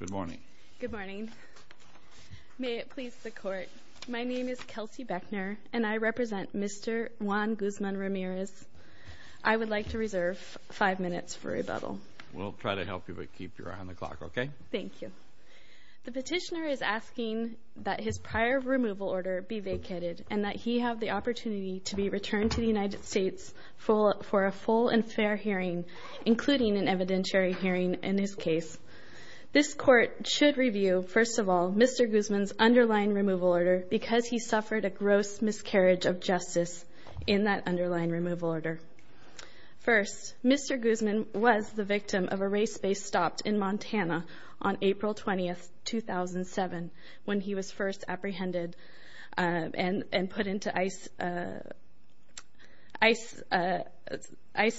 Good morning. Good morning. May it please the Court, my name is Kelsey Beckner and I represent Mr. Juan Guzman-Ramirez. I would like to reserve five minutes for rebuttal. We'll try to help you, but keep your eye on the clock, okay? Thank you. The petitioner is asking that his prior removal order be vacated and that he have the opportunity to be returned to the United States for a full and fair hearing, including an evidentiary hearing in his case. This Court should review, first of all, Mr. Guzman's underlying removal order because he suffered a gross miscarriage of justice in that underlying removal order. First, Mr. Guzman was the victim of a race-based stop in Montana on April 20, 2007, when he was first apprehended and put into ICE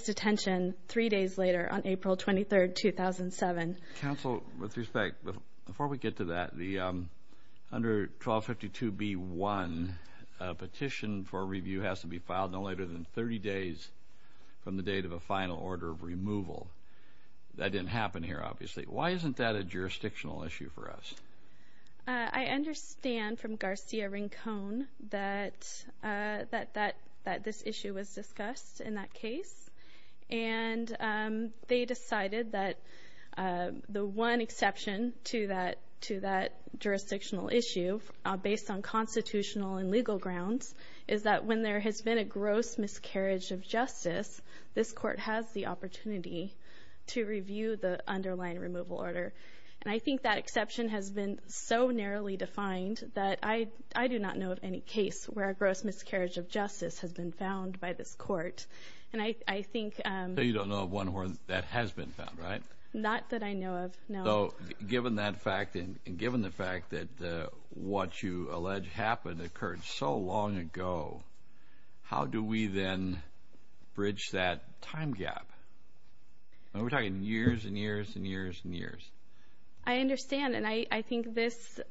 detention three days later on April 23, 2007. Counsel, with respect, before we get to that, under 1252B1, a petition for review has to be filed no later than 30 days from the date of a final order of removal. That didn't happen here, obviously. Why isn't that a jurisdictional issue for us? I understand from Garcia-Rincon that this issue was discussed in that case, and they decided that the one exception to that jurisdictional issue, based on constitutional and legal grounds, is that when there has been a gross miscarriage of justice, this Court has the opportunity to review the underlying removal order. I think that exception has been so narrowly defined that I do not know of any case where a gross miscarriage of justice has been found by this Court. So you don't know of one where that has been found, right? Not that I know of, no. Given that fact, and given the fact that what you allege happened occurred so long ago, how do we then bridge that time gap? We're talking years and years and years and years. I understand, and I think this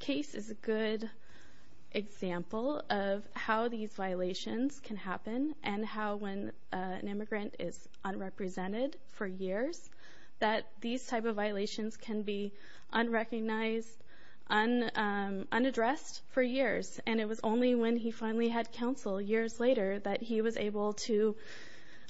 case is a good example of how these violations can happen, and how when an immigrant is unrepresented for years, that these type of violations can be unrecognized, unaddressed for years. And it was only when he finally had counsel years later that he was able to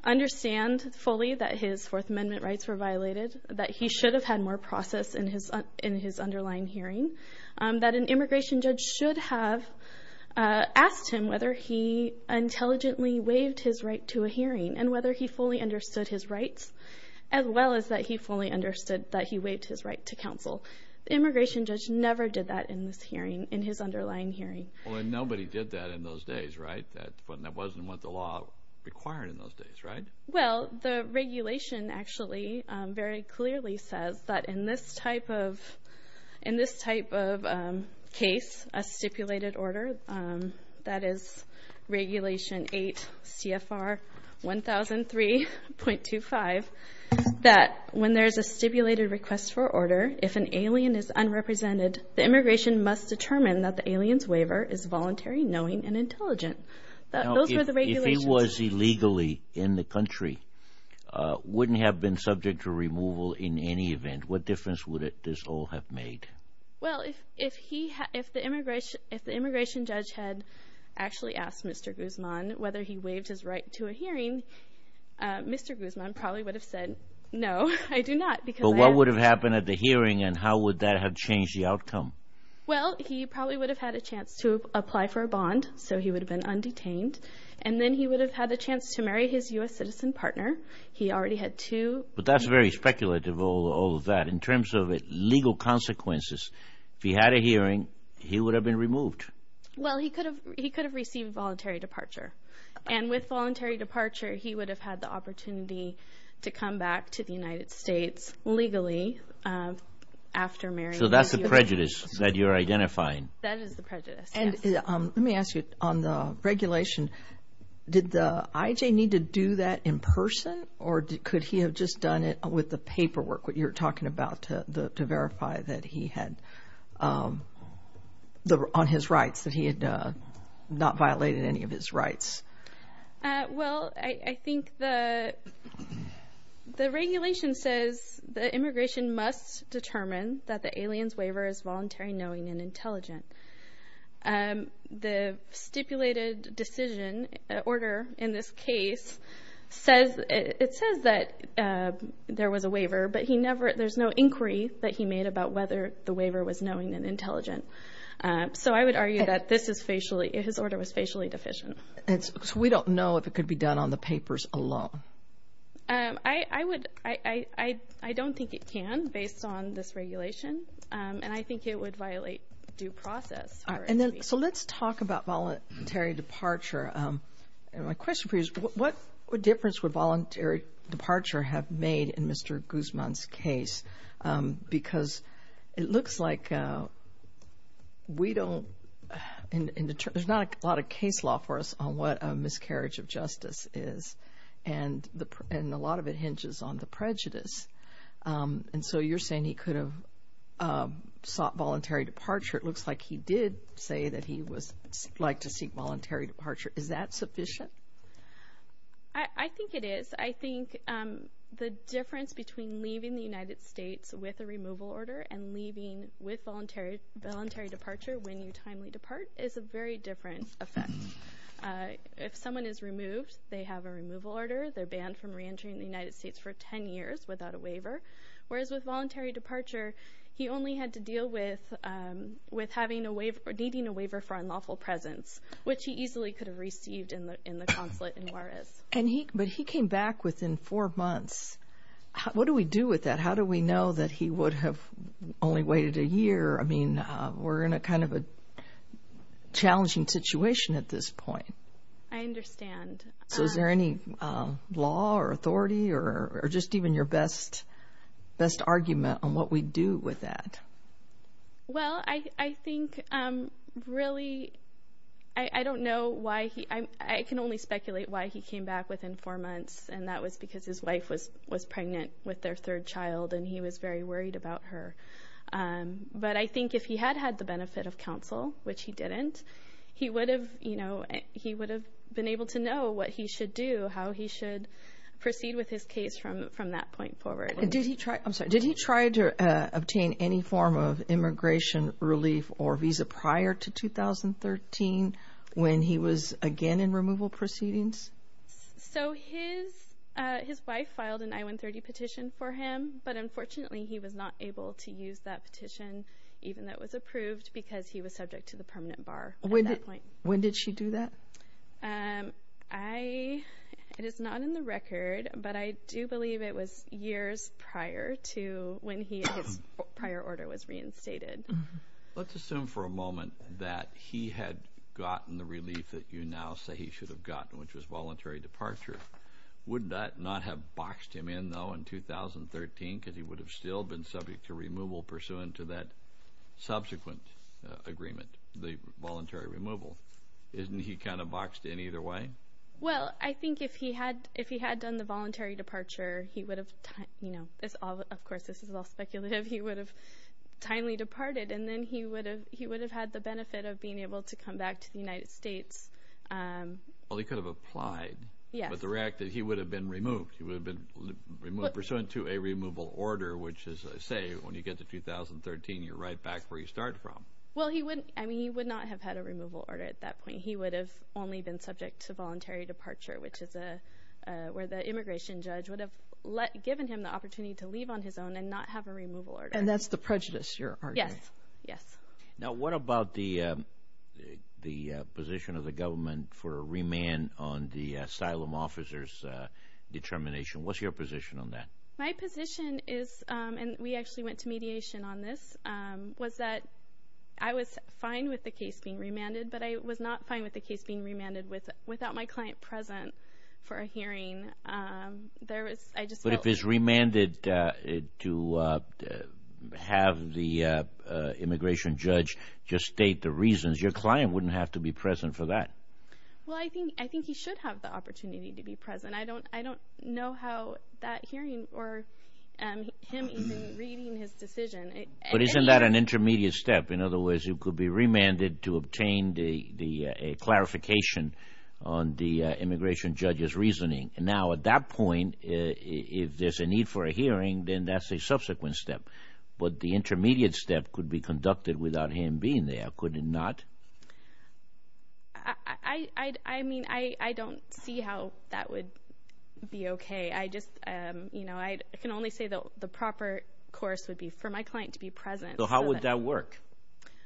understand fully that his Fourth Amendment rights were violated, that he should have had more process in his underlying hearing, that an immigration judge should have asked him whether he intelligently waived his right to a hearing, and whether he fully understood his rights, as well as that he fully understood that he waived his right to counsel. The immigration judge never did that in his underlying hearing. Well, and nobody did that in those days, right? That wasn't what the law required in those days, right? Well, the regulation actually very clearly says that in this type of case, a stipulated order, that is Regulation 8 CFR 1003.25, that when there's a stipulated request for order, if an alien is unrepresented, the immigration must determine that the alien's waiver is voluntary, knowing, and intelligent. Now, if he was illegally in the country, wouldn't he have been subject to removal in any event? What difference would this all have made? Well, if the immigration judge had actually asked Mr. Guzman whether he waived his right to a hearing, Mr. Guzman probably would have said, no, I do not. But what would have happened at the hearing, and how would that have changed the outcome? Well, he probably would have had a chance to apply for a bond, so he would have been undetained. And then he would have had a chance to marry his U.S. citizen partner. He already had two. But that's very speculative, all of that, in terms of legal consequences. If he had a hearing, he would have been removed. Well, he could have received voluntary departure. And with voluntary departure, he would have had the opportunity to come back to the United States legally after marrying a U.S. citizen. So that's the prejudice that you're identifying. That is the prejudice, yes. Let me ask you, on the regulation, did the IJ need to do that in person, or could he have just done it with the paperwork, what you're talking about, to verify that he had, on his rights, that he had not violated any of his rights? Well, I think the regulation says that immigration must determine that the alien's waiver is voluntary, knowing, and intelligent. The stipulated decision order in this case says that there was a waiver, but there's no inquiry that he made about whether the waiver was knowing and intelligent. So I would argue that his order was facially deficient. So we don't know if it could be done on the papers alone? I don't think it can, based on this regulation, and I think it would violate due process. So let's talk about voluntary departure. My question for you is, what difference would voluntary departure have made in Mr. Guzman's case? Because it looks like we don't, there's not a lot of case law for us on what a miscarriage of justice is, and a lot of it hinges on the prejudice. And so you're saying he could have sought voluntary departure. It looks like he did say that he would like to seek voluntary departure. Is that sufficient? I think it is. I think the difference between leaving the United States with a removal order and leaving with voluntary departure when you timely depart is a very different effect. If someone is removed, they have a removal order. They're banned from reentering the United States for 10 years without a waiver. Whereas with voluntary departure, he only had to deal with needing a waiver for unlawful presence, which he easily could have received in the consulate in Juarez. But he came back within four months. What do we do with that? How do we know that he would have only waited a year? I mean, we're in kind of a challenging situation at this point. I understand. So is there any law or authority or just even your best argument on what we do with that? Well, I think really I don't know why he – I can only speculate why he came back within four months, and that was because his wife was pregnant with their third child and he was very worried about her. But I think if he had had the benefit of counsel, which he didn't, he would have been able to know what he should do, how he should proceed with his case from that point forward. I'm sorry. Did he try to obtain any form of immigration relief or visa prior to 2013 when he was again in removal proceedings? So his wife filed an I-130 petition for him, but unfortunately he was not able to use that petition even though it was approved because he was subject to the permanent bar at that point. When did she do that? It is not in the record, but I do believe it was years prior to when his prior order was reinstated. Let's assume for a moment that he had gotten the relief that you now say he should have gotten, which was voluntary departure. Would that not have boxed him in, though, in 2013? Because he would have still been subject to removal pursuant to that subsequent agreement, the voluntary removal. Isn't he kind of boxed in either way? Well, I think if he had done the voluntary departure, he would have, you know, of course this is all speculative, he would have timely departed, and then he would have had the benefit of being able to come back to the United States. Well, he could have applied. Yes. But he would have been removed. He would have been removed pursuant to a removal order, which is to say when you get to 2013, you're right back where you started from. Well, he would not have had a removal order at that point. He would have only been subject to voluntary departure, which is where the immigration judge would have given him the opportunity to leave on his own and not have a removal order. And that's the prejudice, you're arguing. Yes. Now, what about the position of the government for a remand on the asylum officer's determination? What's your position on that? My position is, and we actually went to mediation on this, was that I was fine with the case being remanded, but I was not fine with the case being remanded without my client present for a hearing. But if it's remanded to have the immigration judge just state the reasons, your client wouldn't have to be present for that. Well, I think he should have the opportunity to be present. And I don't know how that hearing or him even reading his decision. But isn't that an intermediate step? In other words, it could be remanded to obtain a clarification on the immigration judge's reasoning. Now, at that point, if there's a need for a hearing, then that's a subsequent step. But the intermediate step could be conducted without him being there, could it not? I mean, I don't see how that would be okay. I just, you know, I can only say the proper course would be for my client to be present. So how would that work?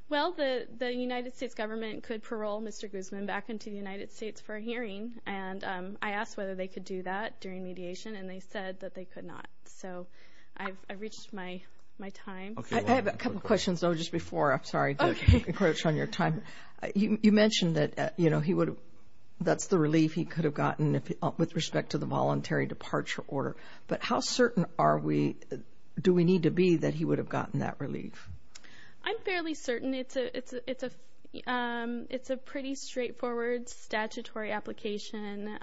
Well, the United States government could parole Mr. Guzman back into the United States for a hearing, and I asked whether they could do that during mediation, and they said that they could not. So I've reached my time. I have a couple of questions, though, just before. I'm sorry to encroach on your time. You mentioned that, you know, that's the relief he could have gotten with respect to the voluntary departure order. But how certain do we need to be that he would have gotten that relief? I'm fairly certain. It's a pretty straightforward statutory application.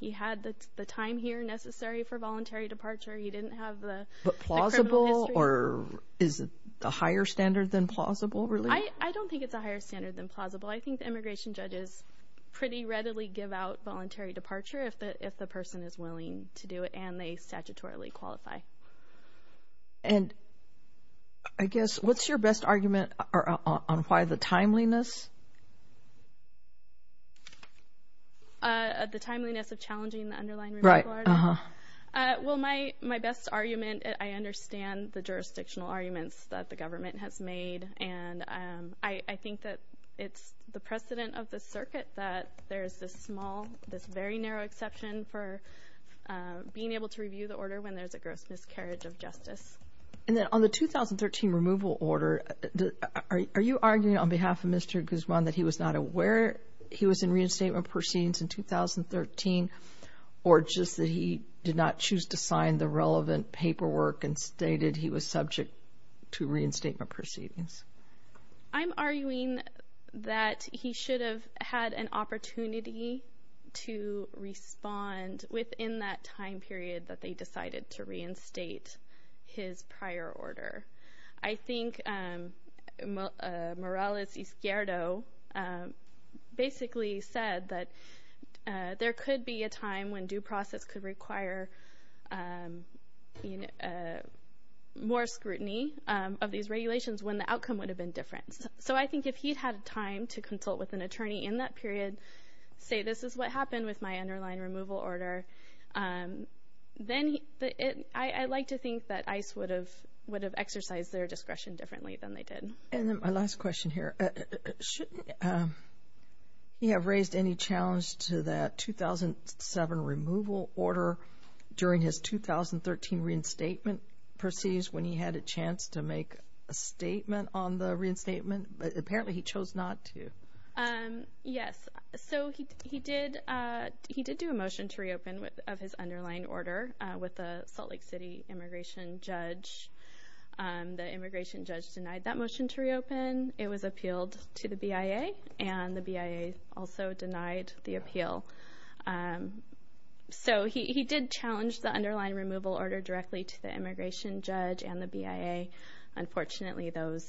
He had the time here necessary for voluntary departure. He didn't have the criminal history. Or is it a higher standard than plausible relief? I don't think it's a higher standard than plausible. I think the immigration judges pretty readily give out voluntary departure if the person is willing to do it, and they statutorily qualify. And I guess what's your best argument on why the timeliness? The timeliness of challenging the underlying removal order? Right. Well, my best argument, I understand the jurisdictional arguments that the government has made, and I think that it's the precedent of the circuit that there is this small, this very narrow exception for being able to review the order when there's a gross miscarriage of justice. And then on the 2013 removal order, are you arguing on behalf of Mr. Guzman that he was not aware he was in and that he did not choose to sign the relevant paperwork and stated he was subject to reinstatement proceedings? I'm arguing that he should have had an opportunity to respond within that time period that they decided to reinstate his prior order. I think Morales Izquierdo basically said that there could be a time when due process could require more scrutiny of these regulations when the outcome would have been different. So I think if he'd had time to consult with an attorney in that period, say this is what happened with my underlying removal order, then I like to think that ICE would have exercised their discretion differently than they did. And then my last question here. Shouldn't he have raised any challenge to that 2007 removal order during his 2013 reinstatement proceeds when he had a chance to make a statement on the reinstatement? Apparently he chose not to. Yes. So he did do a motion to reopen of his underlying order with the Salt Lake City immigration judge. The immigration judge denied that motion to reopen. It was appealed to the BIA, and the BIA also denied the appeal. So he did challenge the underlying removal order directly to the immigration judge and the BIA. Unfortunately, those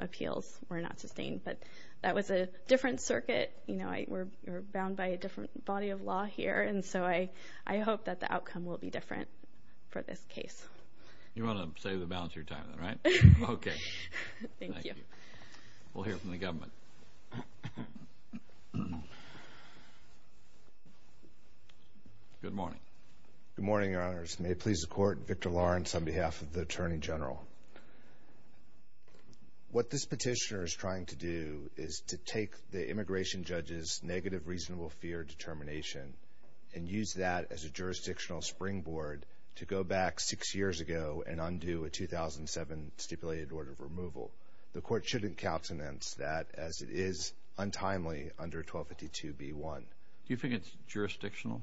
appeals were not sustained. But that was a different circuit. You know, we're bound by a different body of law here. And so I hope that the outcome will be different for this case. You want to save the balance of your time, right? Okay. Thank you. Thank you. We'll hear from the government. Good morning. Good morning, Your Honors. May it please the Court, Victor Lawrence on behalf of the Attorney General. What this petitioner is trying to do is to take the immigration judge's negative reasonable fear determination and use that as a jurisdictional springboard to go back six years ago and undo a 2007 stipulated order of removal. The Court shouldn't countenance that as it is untimely under 1252b1. Do you think it's jurisdictional?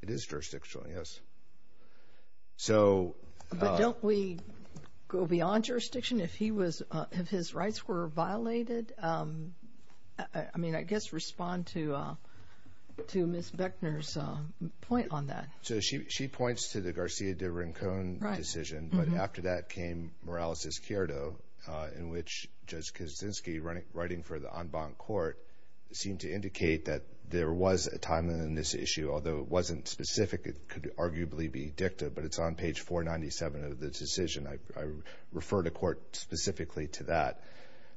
It is jurisdictional, yes. But don't we go beyond jurisdiction? If his rights were violated, I mean, I guess respond to Ms. Bechner's point on that. So she points to the Garcia de Rincon decision. But after that came Morales-Izquierdo, in which Judge Kaczynski, writing for the en banc court, seemed to indicate that there was a timeliness issue, although it wasn't specific. It could arguably be dicta, but it's on page 497 of the decision. I refer the Court specifically to that.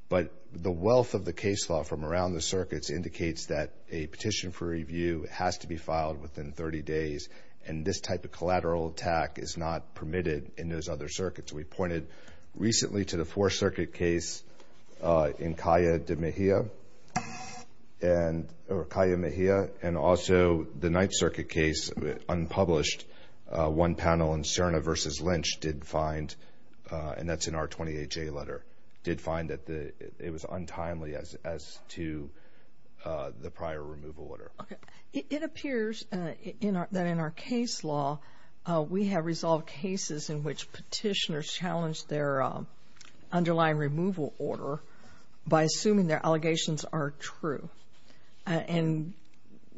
But the wealth of the case law from around the circuits indicates that a petition for review has to be filed within 30 days, and this type of collateral attack is not permitted in those other circuits. We pointed recently to the Fourth Circuit case in Calle de Mejia, or Calle de Mejia, and also the Ninth Circuit case unpublished. One panel in Serna v. Lynch did find, and that's in our 28-J letter, did find that it was untimely as to the prior removal order. It appears that in our case law we have resolved cases in which petitioners challenged their underlying removal order by assuming their allegations are true, and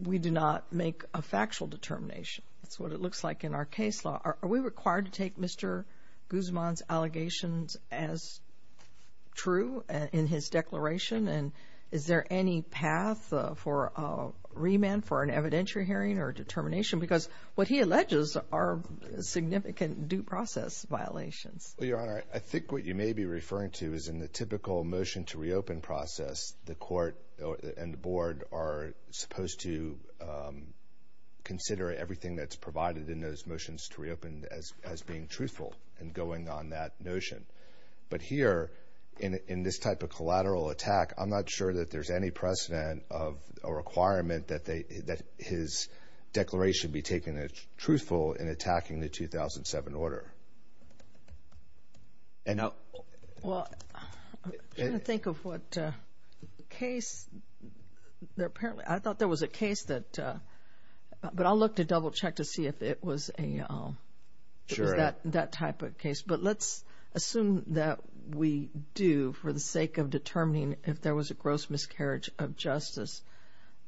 we do not make a factual determination. That's what it looks like in our case law. Are we required to take Mr. Guzman's allegations as true in his declaration, and is there any path for remand for an evidentiary hearing or determination? Because what he alleges are significant due process violations. Well, Your Honor, I think what you may be referring to is in the typical motion to reopen process, the Court and the Board are supposed to consider everything that's provided in those motions to reopen as being truthful and going on that notion. But here, in this type of collateral attack, I'm not sure that there's any precedent of a requirement that his declaration be taken as truthful in attacking the 2007 order. Well, I'm trying to think of what case. I thought there was a case that, but I'll look to double-check to see if it was that type of case. But let's assume that we do for the sake of determining if there was a gross miscarriage of justice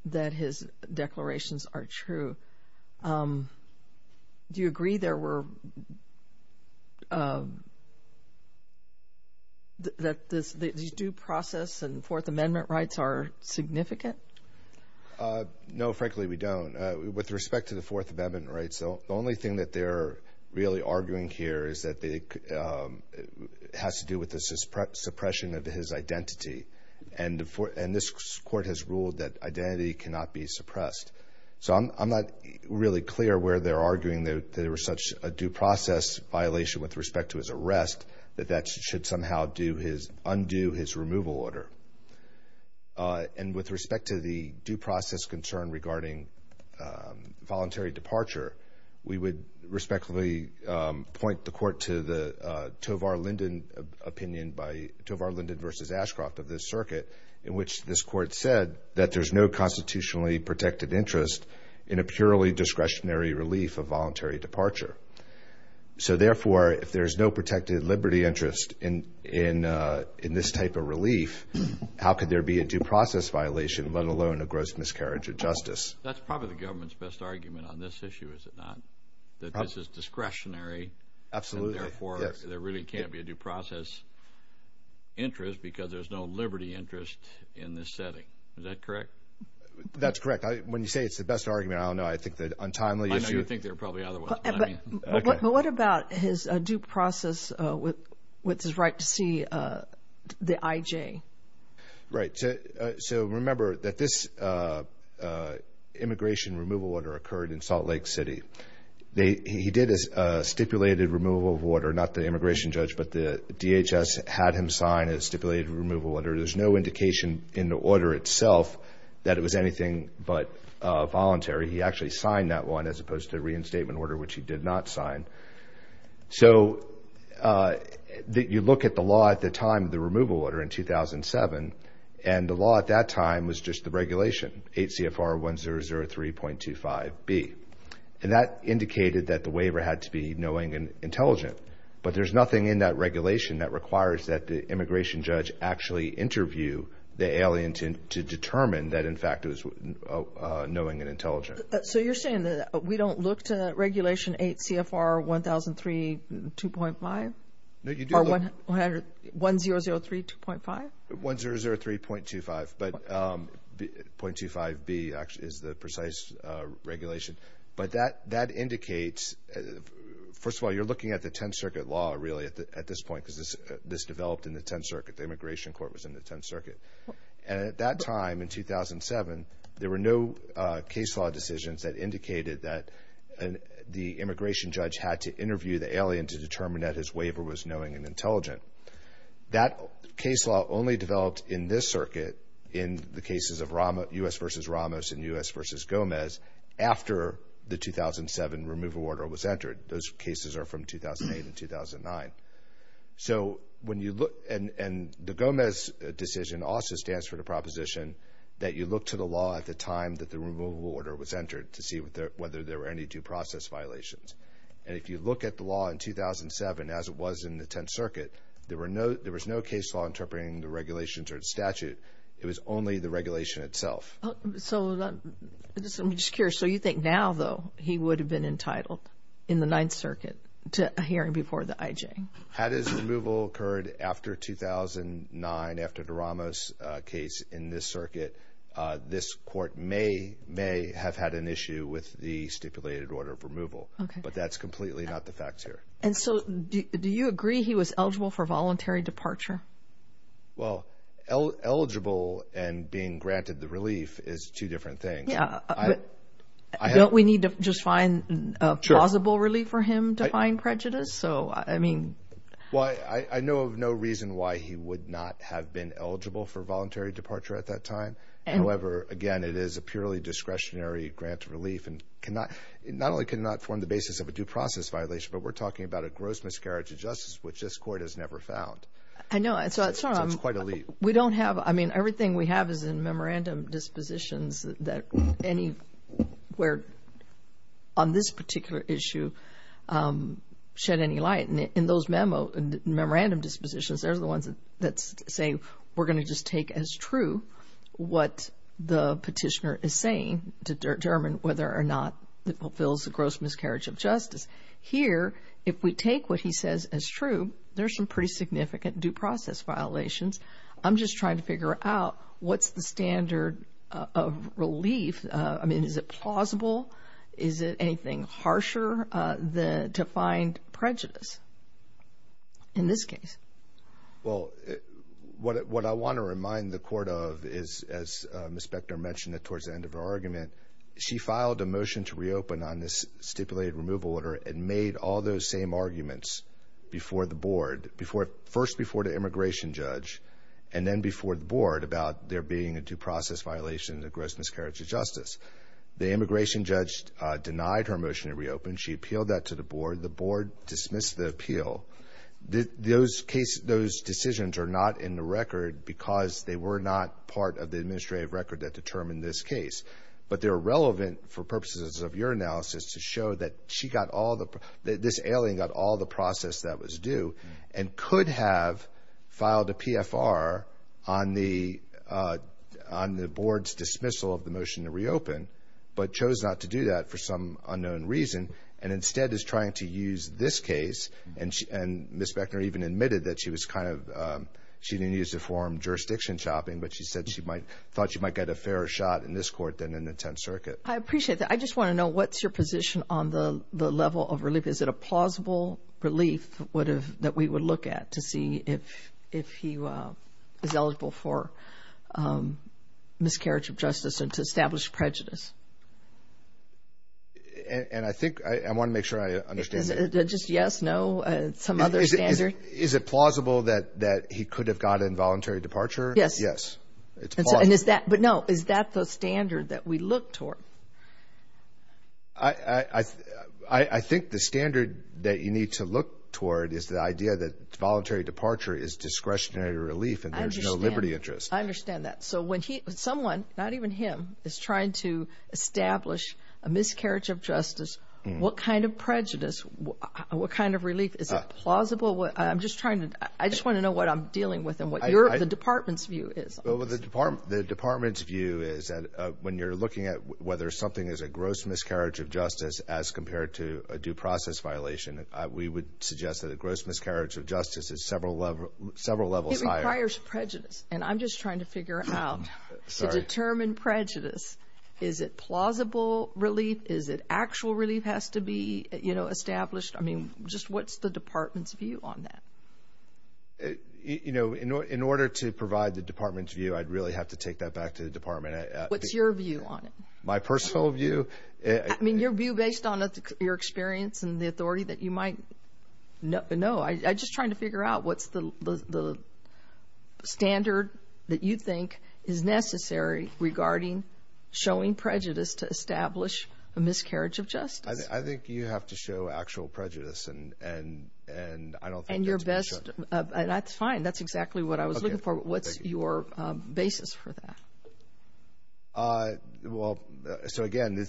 that his declarations are true. Do you agree that these due process and Fourth Amendment rights are significant? No, frankly, we don't. With respect to the Fourth Amendment rights, the only thing that they're really arguing here is that it has to do with the suppression of his identity. And this Court has ruled that identity cannot be suppressed. So I'm not really clear where they're arguing that there was such a due process violation with respect to his arrest that that should somehow undo his removal order. And with respect to the due process concern regarding voluntary departure, we would respectfully point the Court to the Tovar Linden opinion by Tovar Linden v. Ashcroft of this circuit, in which this Court said that there's no constitutionally protected interest in a purely discretionary relief of voluntary departure. So therefore, if there's no protected liberty interest in this type of relief, how could there be a due process violation, let alone a gross miscarriage of justice? That's probably the government's best argument on this issue, is it not? That this is discretionary. Absolutely. And therefore, there really can't be a due process interest because there's no liberty interest in this setting. Is that correct? That's correct. When you say it's the best argument, I don't know. I know you think there are probably other ones. But what about his due process with his right to see the IJ? Right. So remember that this immigration removal order occurred in Salt Lake City. He did a stipulated removal of order, not the immigration judge, but the DHS had him sign a stipulated removal order. There's no indication in the order itself that it was anything but voluntary. He actually signed that one as opposed to the reinstatement order, which he did not sign. So you look at the law at the time, the removal order in 2007, and the law at that time was just the regulation, 8 CFR 1003.25B. And that indicated that the waiver had to be knowing and intelligent. But there's nothing in that regulation that requires that the immigration judge actually interview the alien to determine that, in fact, it was knowing and intelligent. So you're saying that we don't look to regulation 8 CFR 1003.25? No, you do look. Or 1003.25? 1003.25. But .25B is the precise regulation. But that indicates, first of all, you're looking at the Tenth Circuit law really at this point because this developed in the Tenth Circuit. The immigration court was in the Tenth Circuit. And at that time in 2007, there were no case law decisions that indicated that the immigration judge had to interview the alien to determine that his waiver was knowing and intelligent. That case law only developed in this circuit in the cases of U.S. v. Ramos and U.S. v. Gomez after the 2007 removal order was entered. Those cases are from 2008 and 2009. So when you look and the Gomez decision also stands for the proposition that you look to the law at the time that the removal order was entered to see whether there were any due process violations. And if you look at the law in 2007 as it was in the Tenth Circuit, there was no case law interpreting the regulations or the statute. It was only the regulation itself. So I'm just curious. So you think now, though, he would have been entitled in the Ninth Circuit to a hearing before the IJ? Had his removal occurred after 2009, after the Ramos case in this circuit, this court may have had an issue with the stipulated order of removal. But that's completely not the facts here. And so do you agree he was eligible for voluntary departure? Well, eligible and being granted the relief is two different things. Don't we need to just find a plausible relief for him to find prejudice? So, I mean. Well, I know of no reason why he would not have been eligible for voluntary departure at that time. However, again, it is a purely discretionary grant of relief and not only cannot form the basis of a due process violation, but we're talking about a gross miscarriage of justice, which this court has never found. I know. So it's quite a leap. We don't have. I mean, everything we have is in memorandum dispositions that anywhere on this particular issue shed any light. In those memo and memorandum dispositions, they're the ones that say we're going to just take as true what the petitioner is saying to determine whether or not it fulfills the gross miscarriage of justice. Here, if we take what he says as true, there's some pretty significant due process violations. I'm just trying to figure out what's the standard of relief. I mean, is it plausible? Is it anything harsher to find prejudice in this case? Well, what I want to remind the court of is, as Ms. Bechner mentioned towards the end of her argument, she filed a motion to reopen on this stipulated removal order and made all those same arguments before the board, first before the immigration judge, and then before the board about there being a due process violation of gross miscarriage of justice. The immigration judge denied her motion to reopen. She appealed that to the board. The board dismissed the appeal. Those decisions are not in the record because they were not part of the administrative record that determined this case. But they're relevant for purposes of your analysis to show that she got all the, this alien got all the process that was due and could have filed a PFR on the board's dismissal of the motion to reopen, but chose not to do that for some unknown reason and instead is trying to use this case. And Ms. Bechner even admitted that she was kind of, she didn't use the form jurisdiction chopping, but she said she thought she might get a fairer shot in this court than in the Tenth Circuit. I appreciate that. I just want to know, what's your position on the level of relief? Is it a plausible relief that we would look at to see if he was eligible for miscarriage of justice and to establish prejudice? And I think, I want to make sure I understand. Is it just yes, no, some other standard? Is it plausible that he could have gotten involuntary departure? Yes. And is that, but no, is that the standard that we look toward? I think the standard that you need to look toward is the idea that voluntary departure is discretionary relief and there's no liberty interest. I understand that. So when someone, not even him, is trying to establish a miscarriage of justice, what kind of prejudice, what kind of relief? Is it plausible? I just want to know what I'm dealing with and what the department's view is. The department's view is that when you're looking at whether something is a gross miscarriage of justice as compared to a due process violation, we would suggest that a gross miscarriage of justice is several levels higher. It requires prejudice. And I'm just trying to figure out to determine prejudice, is it plausible relief? Is it actual relief has to be established? I mean, just what's the department's view on that? You know, in order to provide the department's view, I'd really have to take that back to the department. What's your view on it? My personal view? I mean, your view based on your experience and the authority that you might know. I'm just trying to figure out what's the standard that you think is necessary regarding showing prejudice to establish a miscarriage of justice. I think you have to show actual prejudice, and I don't think that's what you show. And your best of – that's fine. That's exactly what I was looking for. What's your basis for that? Well, so, again,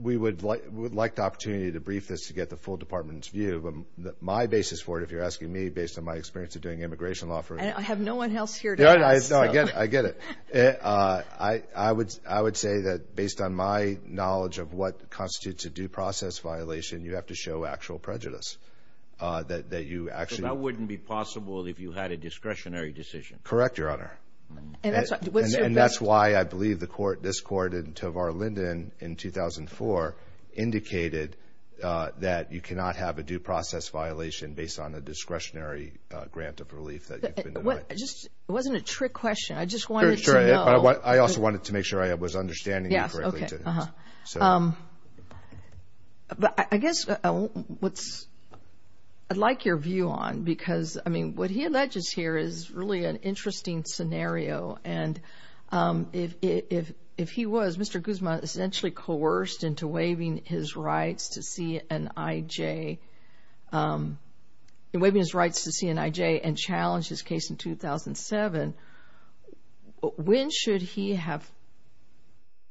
we would like the opportunity to brief this to get the full department's view. My basis for it, if you're asking me, based on my experience of doing immigration law. I have no one else here to ask. No, I get it. I would say that based on my knowledge of what constitutes a due process violation, you have to show actual prejudice, that you actually. So that wouldn't be possible if you had a discretionary decision? Correct, Your Honor. And that's why I believe this court in Tovar Linden in 2004 indicated that you cannot have a due process violation based on a discretionary grant of relief that you've been denied. It wasn't a trick question. I just wanted to know. I also wanted to make sure I was understanding you correctly. Yes, okay. But I guess what's – I'd like your view on – because, I mean, what he alleges here is really an interesting scenario. And if he was – Mr. Guzma essentially coerced into waiving his rights to see an IJ – waiving his rights to see an IJ and challenged his case in 2007, when should he have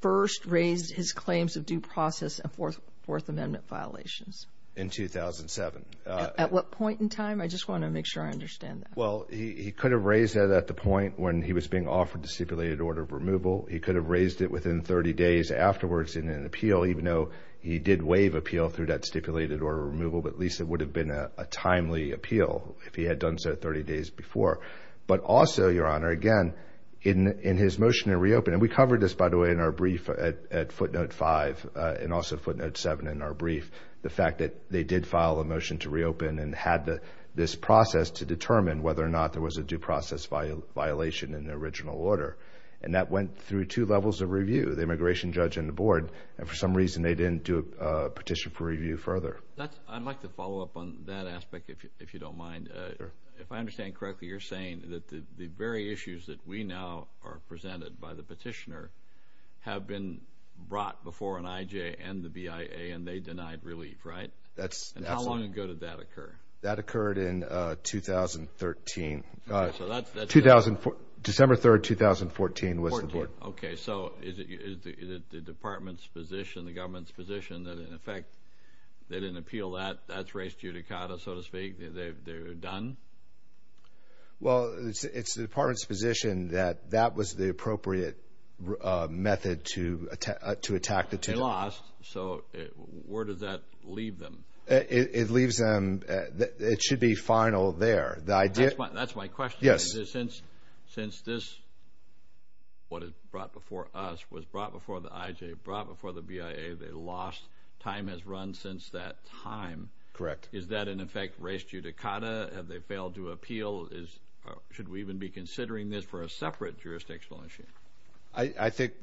first raised his claims of due process and Fourth Amendment violations? In 2007. At what point in time? I just want to make sure I understand that. Well, he could have raised it at the point when he was being offered the stipulated order of removal. He could have raised it within 30 days afterwards in an appeal, even though he did waive appeal through that stipulated order of removal. But at least it would have been a timely appeal if he had done so 30 days before. But also, Your Honor, again, in his motion to reopen – and we covered this, by the way, in our brief at footnote 5 and also footnote 7 in our brief – the fact that they did file a motion to reopen and had this process to determine whether or not there was a due process violation in the original order. And that went through two levels of review, the immigration judge and the board. And for some reason, they didn't do a petition for review further. I'd like to follow up on that aspect, if you don't mind. Sure. If I understand correctly, you're saying that the very issues that we now are presented by the petitioner have been brought before an IJ and the BIA, and they denied relief, right? That's – And how long ago did that occur? That occurred in 2013. So that's – December 3, 2014, was the board. Okay. So is it the department's position, the government's position, that in effect they didn't appeal that? That's res judicata, so to speak. They're done? Well, it's the department's position that that was the appropriate method to attack the – They lost. So where does that leave them? It leaves them – it should be final there. The idea – That's my question. Yes. Since this, what is brought before us, was brought before the IJ, brought before the BIA, they lost. Time has run since that time. Correct. Is that, in effect, res judicata? Have they failed to appeal? Should we even be considering this for a separate jurisdictional issue? I think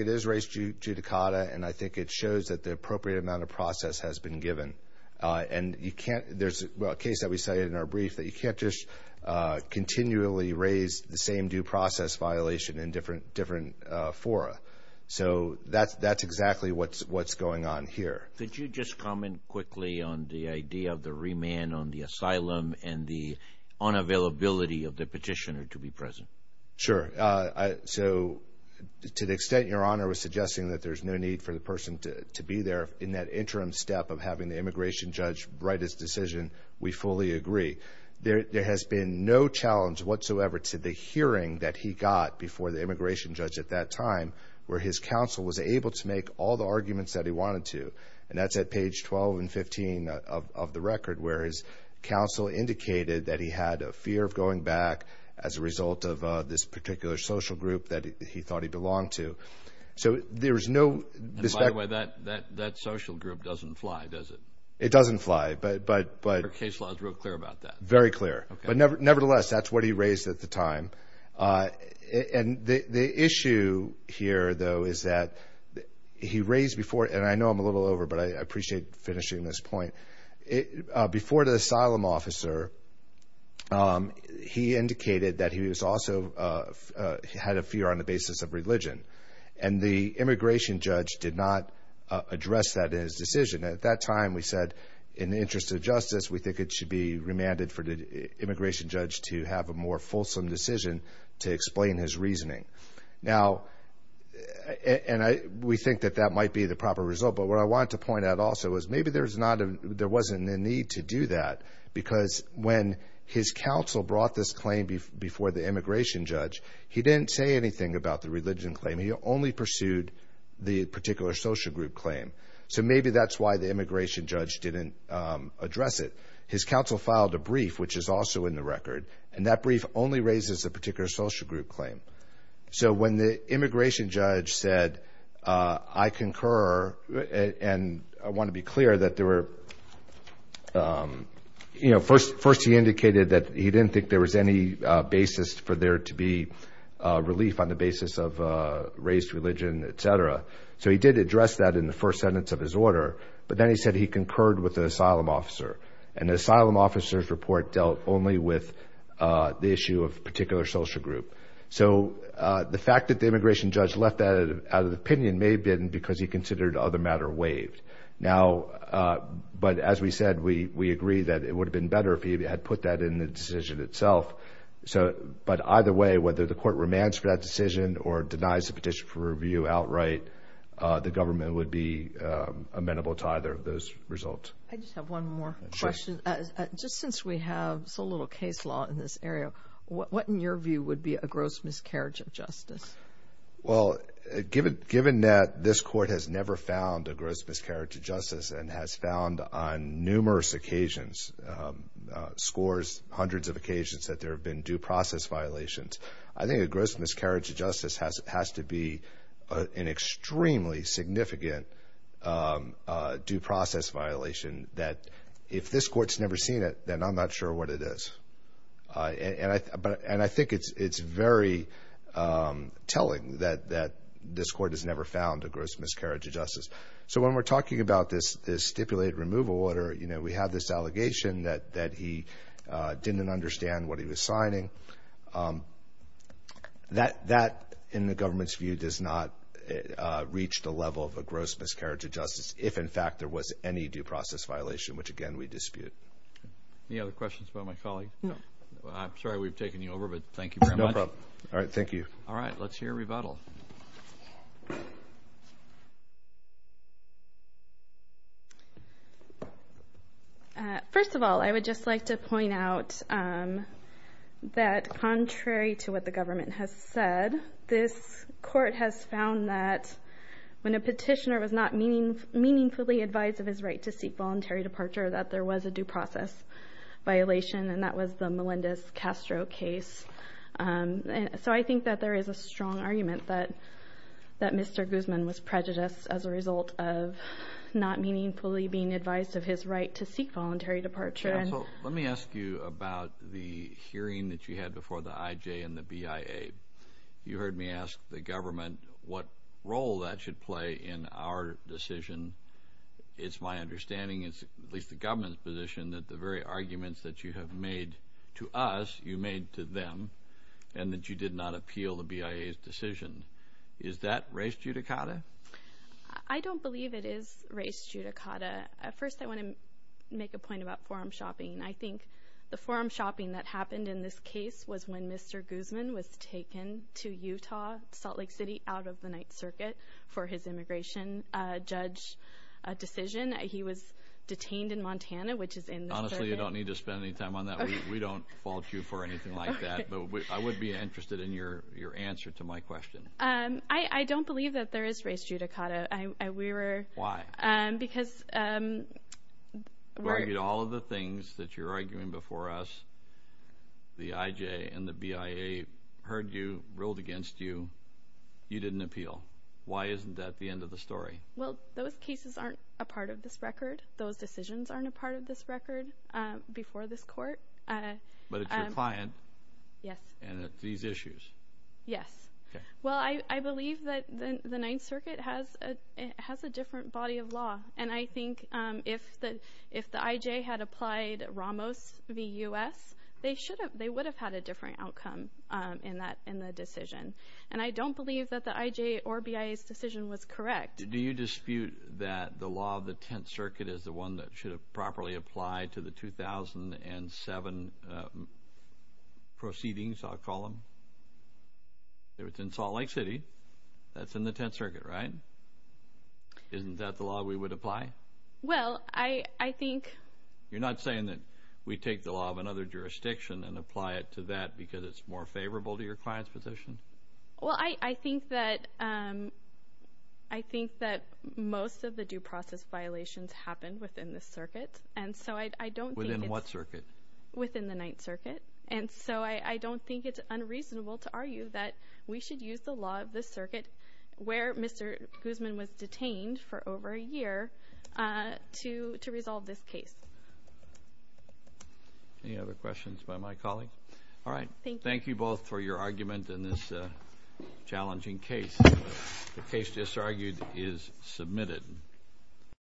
it is res judicata, and I think it shows that the appropriate amount of process has been given. And you can't – there's a case that we cited in our brief that you can't just continually raise the same due process violation in different fora. So that's exactly what's going on here. Could you just comment quickly on the idea of the remand, on the asylum, and the unavailability of the petitioner to be present? Sure. So to the extent Your Honor was suggesting that there's no need for the person to be there, in that interim step of having the immigration judge write his decision, we fully agree. There has been no challenge whatsoever to the hearing that he got before the immigration judge at that time, where his counsel was able to make all the arguments that he wanted to. And that's at page 12 and 15 of the record, where his counsel indicated that he had a fear of going back as a result of this particular social group that he thought he belonged to. So there is no – By the way, that social group doesn't fly, does it? It doesn't fly, but – Your case law is real clear about that. Very clear. But nevertheless, that's what he raised at the time. And the issue here, though, is that he raised before – and I know I'm a little over, but I appreciate finishing this point. Before the asylum officer, he indicated that he also had a fear on the basis of religion. And the immigration judge did not address that in his decision. At that time, we said in the interest of justice, we think it should be remanded for the immigration judge to have a more fulsome decision to explain his reasoning. Now – and we think that that might be the proper result. But what I want to point out also is maybe there's not a – there wasn't a need to do that, because when his counsel brought this claim before the immigration judge, he didn't say anything about the religion claim. He only pursued the particular social group claim. So maybe that's why the immigration judge didn't address it. His counsel filed a brief, which is also in the record, and that brief only raises a particular social group claim. So when the immigration judge said, I concur, and I want to be clear that there were – you know, first he indicated that he didn't think there was any basis for there to be relief on the basis of race, religion, et cetera. So he did address that in the first sentence of his order. But then he said he concurred with the asylum officer. And the asylum officer's report dealt only with the issue of a particular social group. So the fact that the immigration judge left that out of the opinion may have been because he considered the other matter waived. But as we said, we agree that it would have been better if he had put that in the decision itself. But either way, whether the court remands for that decision or denies the petition for review outright, the government would be amenable to either of those results. I just have one more question. Sure. Just since we have so little case law in this area, Well, given that this court has never found a gross miscarriage of justice and has found on numerous occasions, scores, hundreds of occasions, that there have been due process violations, I think a gross miscarriage of justice has to be an extremely significant due process violation that if this court's never seen it, then I'm not sure what it is. And I think it's very telling that this court has never found a gross miscarriage of justice. So when we're talking about this stipulated removal order, we have this allegation that he didn't understand what he was signing. That, in the government's view, does not reach the level of a gross miscarriage of justice if, in fact, there was any due process violation, which, again, we dispute. Any other questions about my colleague? No. I'm sorry we've taken you over, but thank you very much. No problem. All right, thank you. All right, let's hear a rebuttal. First of all, I would just like to point out that contrary to what the government has said, this court has found that when a petitioner was not meaningfully advised of his right to seek voluntary departure that there was a due process violation, and that was the Melendez-Castro case. So I think that there is a strong argument that Mr. Guzman was prejudiced as a result of not meaningfully being advised of his right to seek voluntary departure. Let me ask you about the hearing that you had before the IJ and the BIA. You heard me ask the government what role that should play in our decision. It's my understanding, at least the government's position, that the very arguments that you have made to us you made to them and that you did not appeal the BIA's decision. Is that race judicata? I don't believe it is race judicata. First, I want to make a point about forum shopping. I think the forum shopping that happened in this case was when Mr. Guzman was taken to Utah, Salt Lake City, out of the Ninth Circuit for his immigration. Judge decision. He was detained in Montana, which is in the circuit. Honestly, you don't need to spend any time on that. We don't fault you for anything like that. But I would be interested in your answer to my question. I don't believe that there is race judicata. Why? Because we're— You argued all of the things that you're arguing before us. The IJ and the BIA heard you, ruled against you. You didn't appeal. Why isn't that the end of the story? Well, those cases aren't a part of this record. Those decisions aren't a part of this record before this court. But it's your client. Yes. And it's these issues. Yes. Well, I believe that the Ninth Circuit has a different body of law. And I think if the IJ had applied Ramos v. U.S., they would have had a different outcome in the decision. And I don't believe that the IJ or BIA's decision was correct. Do you dispute that the law of the Tenth Circuit is the one that should have properly applied to the 2007 proceedings, I'll call them? It was in Salt Lake City. That's in the Tenth Circuit, right? Isn't that the law we would apply? Well, I think— You're not saying that we take the law of another jurisdiction and apply it to that because it's more favorable to your client's position? Well, I think that most of the due process violations happen within this circuit. And so I don't think it's— Within what circuit? Within the Ninth Circuit. And so I don't think it's unreasonable to argue that we should use the law of this circuit, where Mr. Guzman was detained for over a year, to resolve this case. Any other questions by my colleagues? All right. Thank you both for your argument in this challenging case. The case disargued is submitted.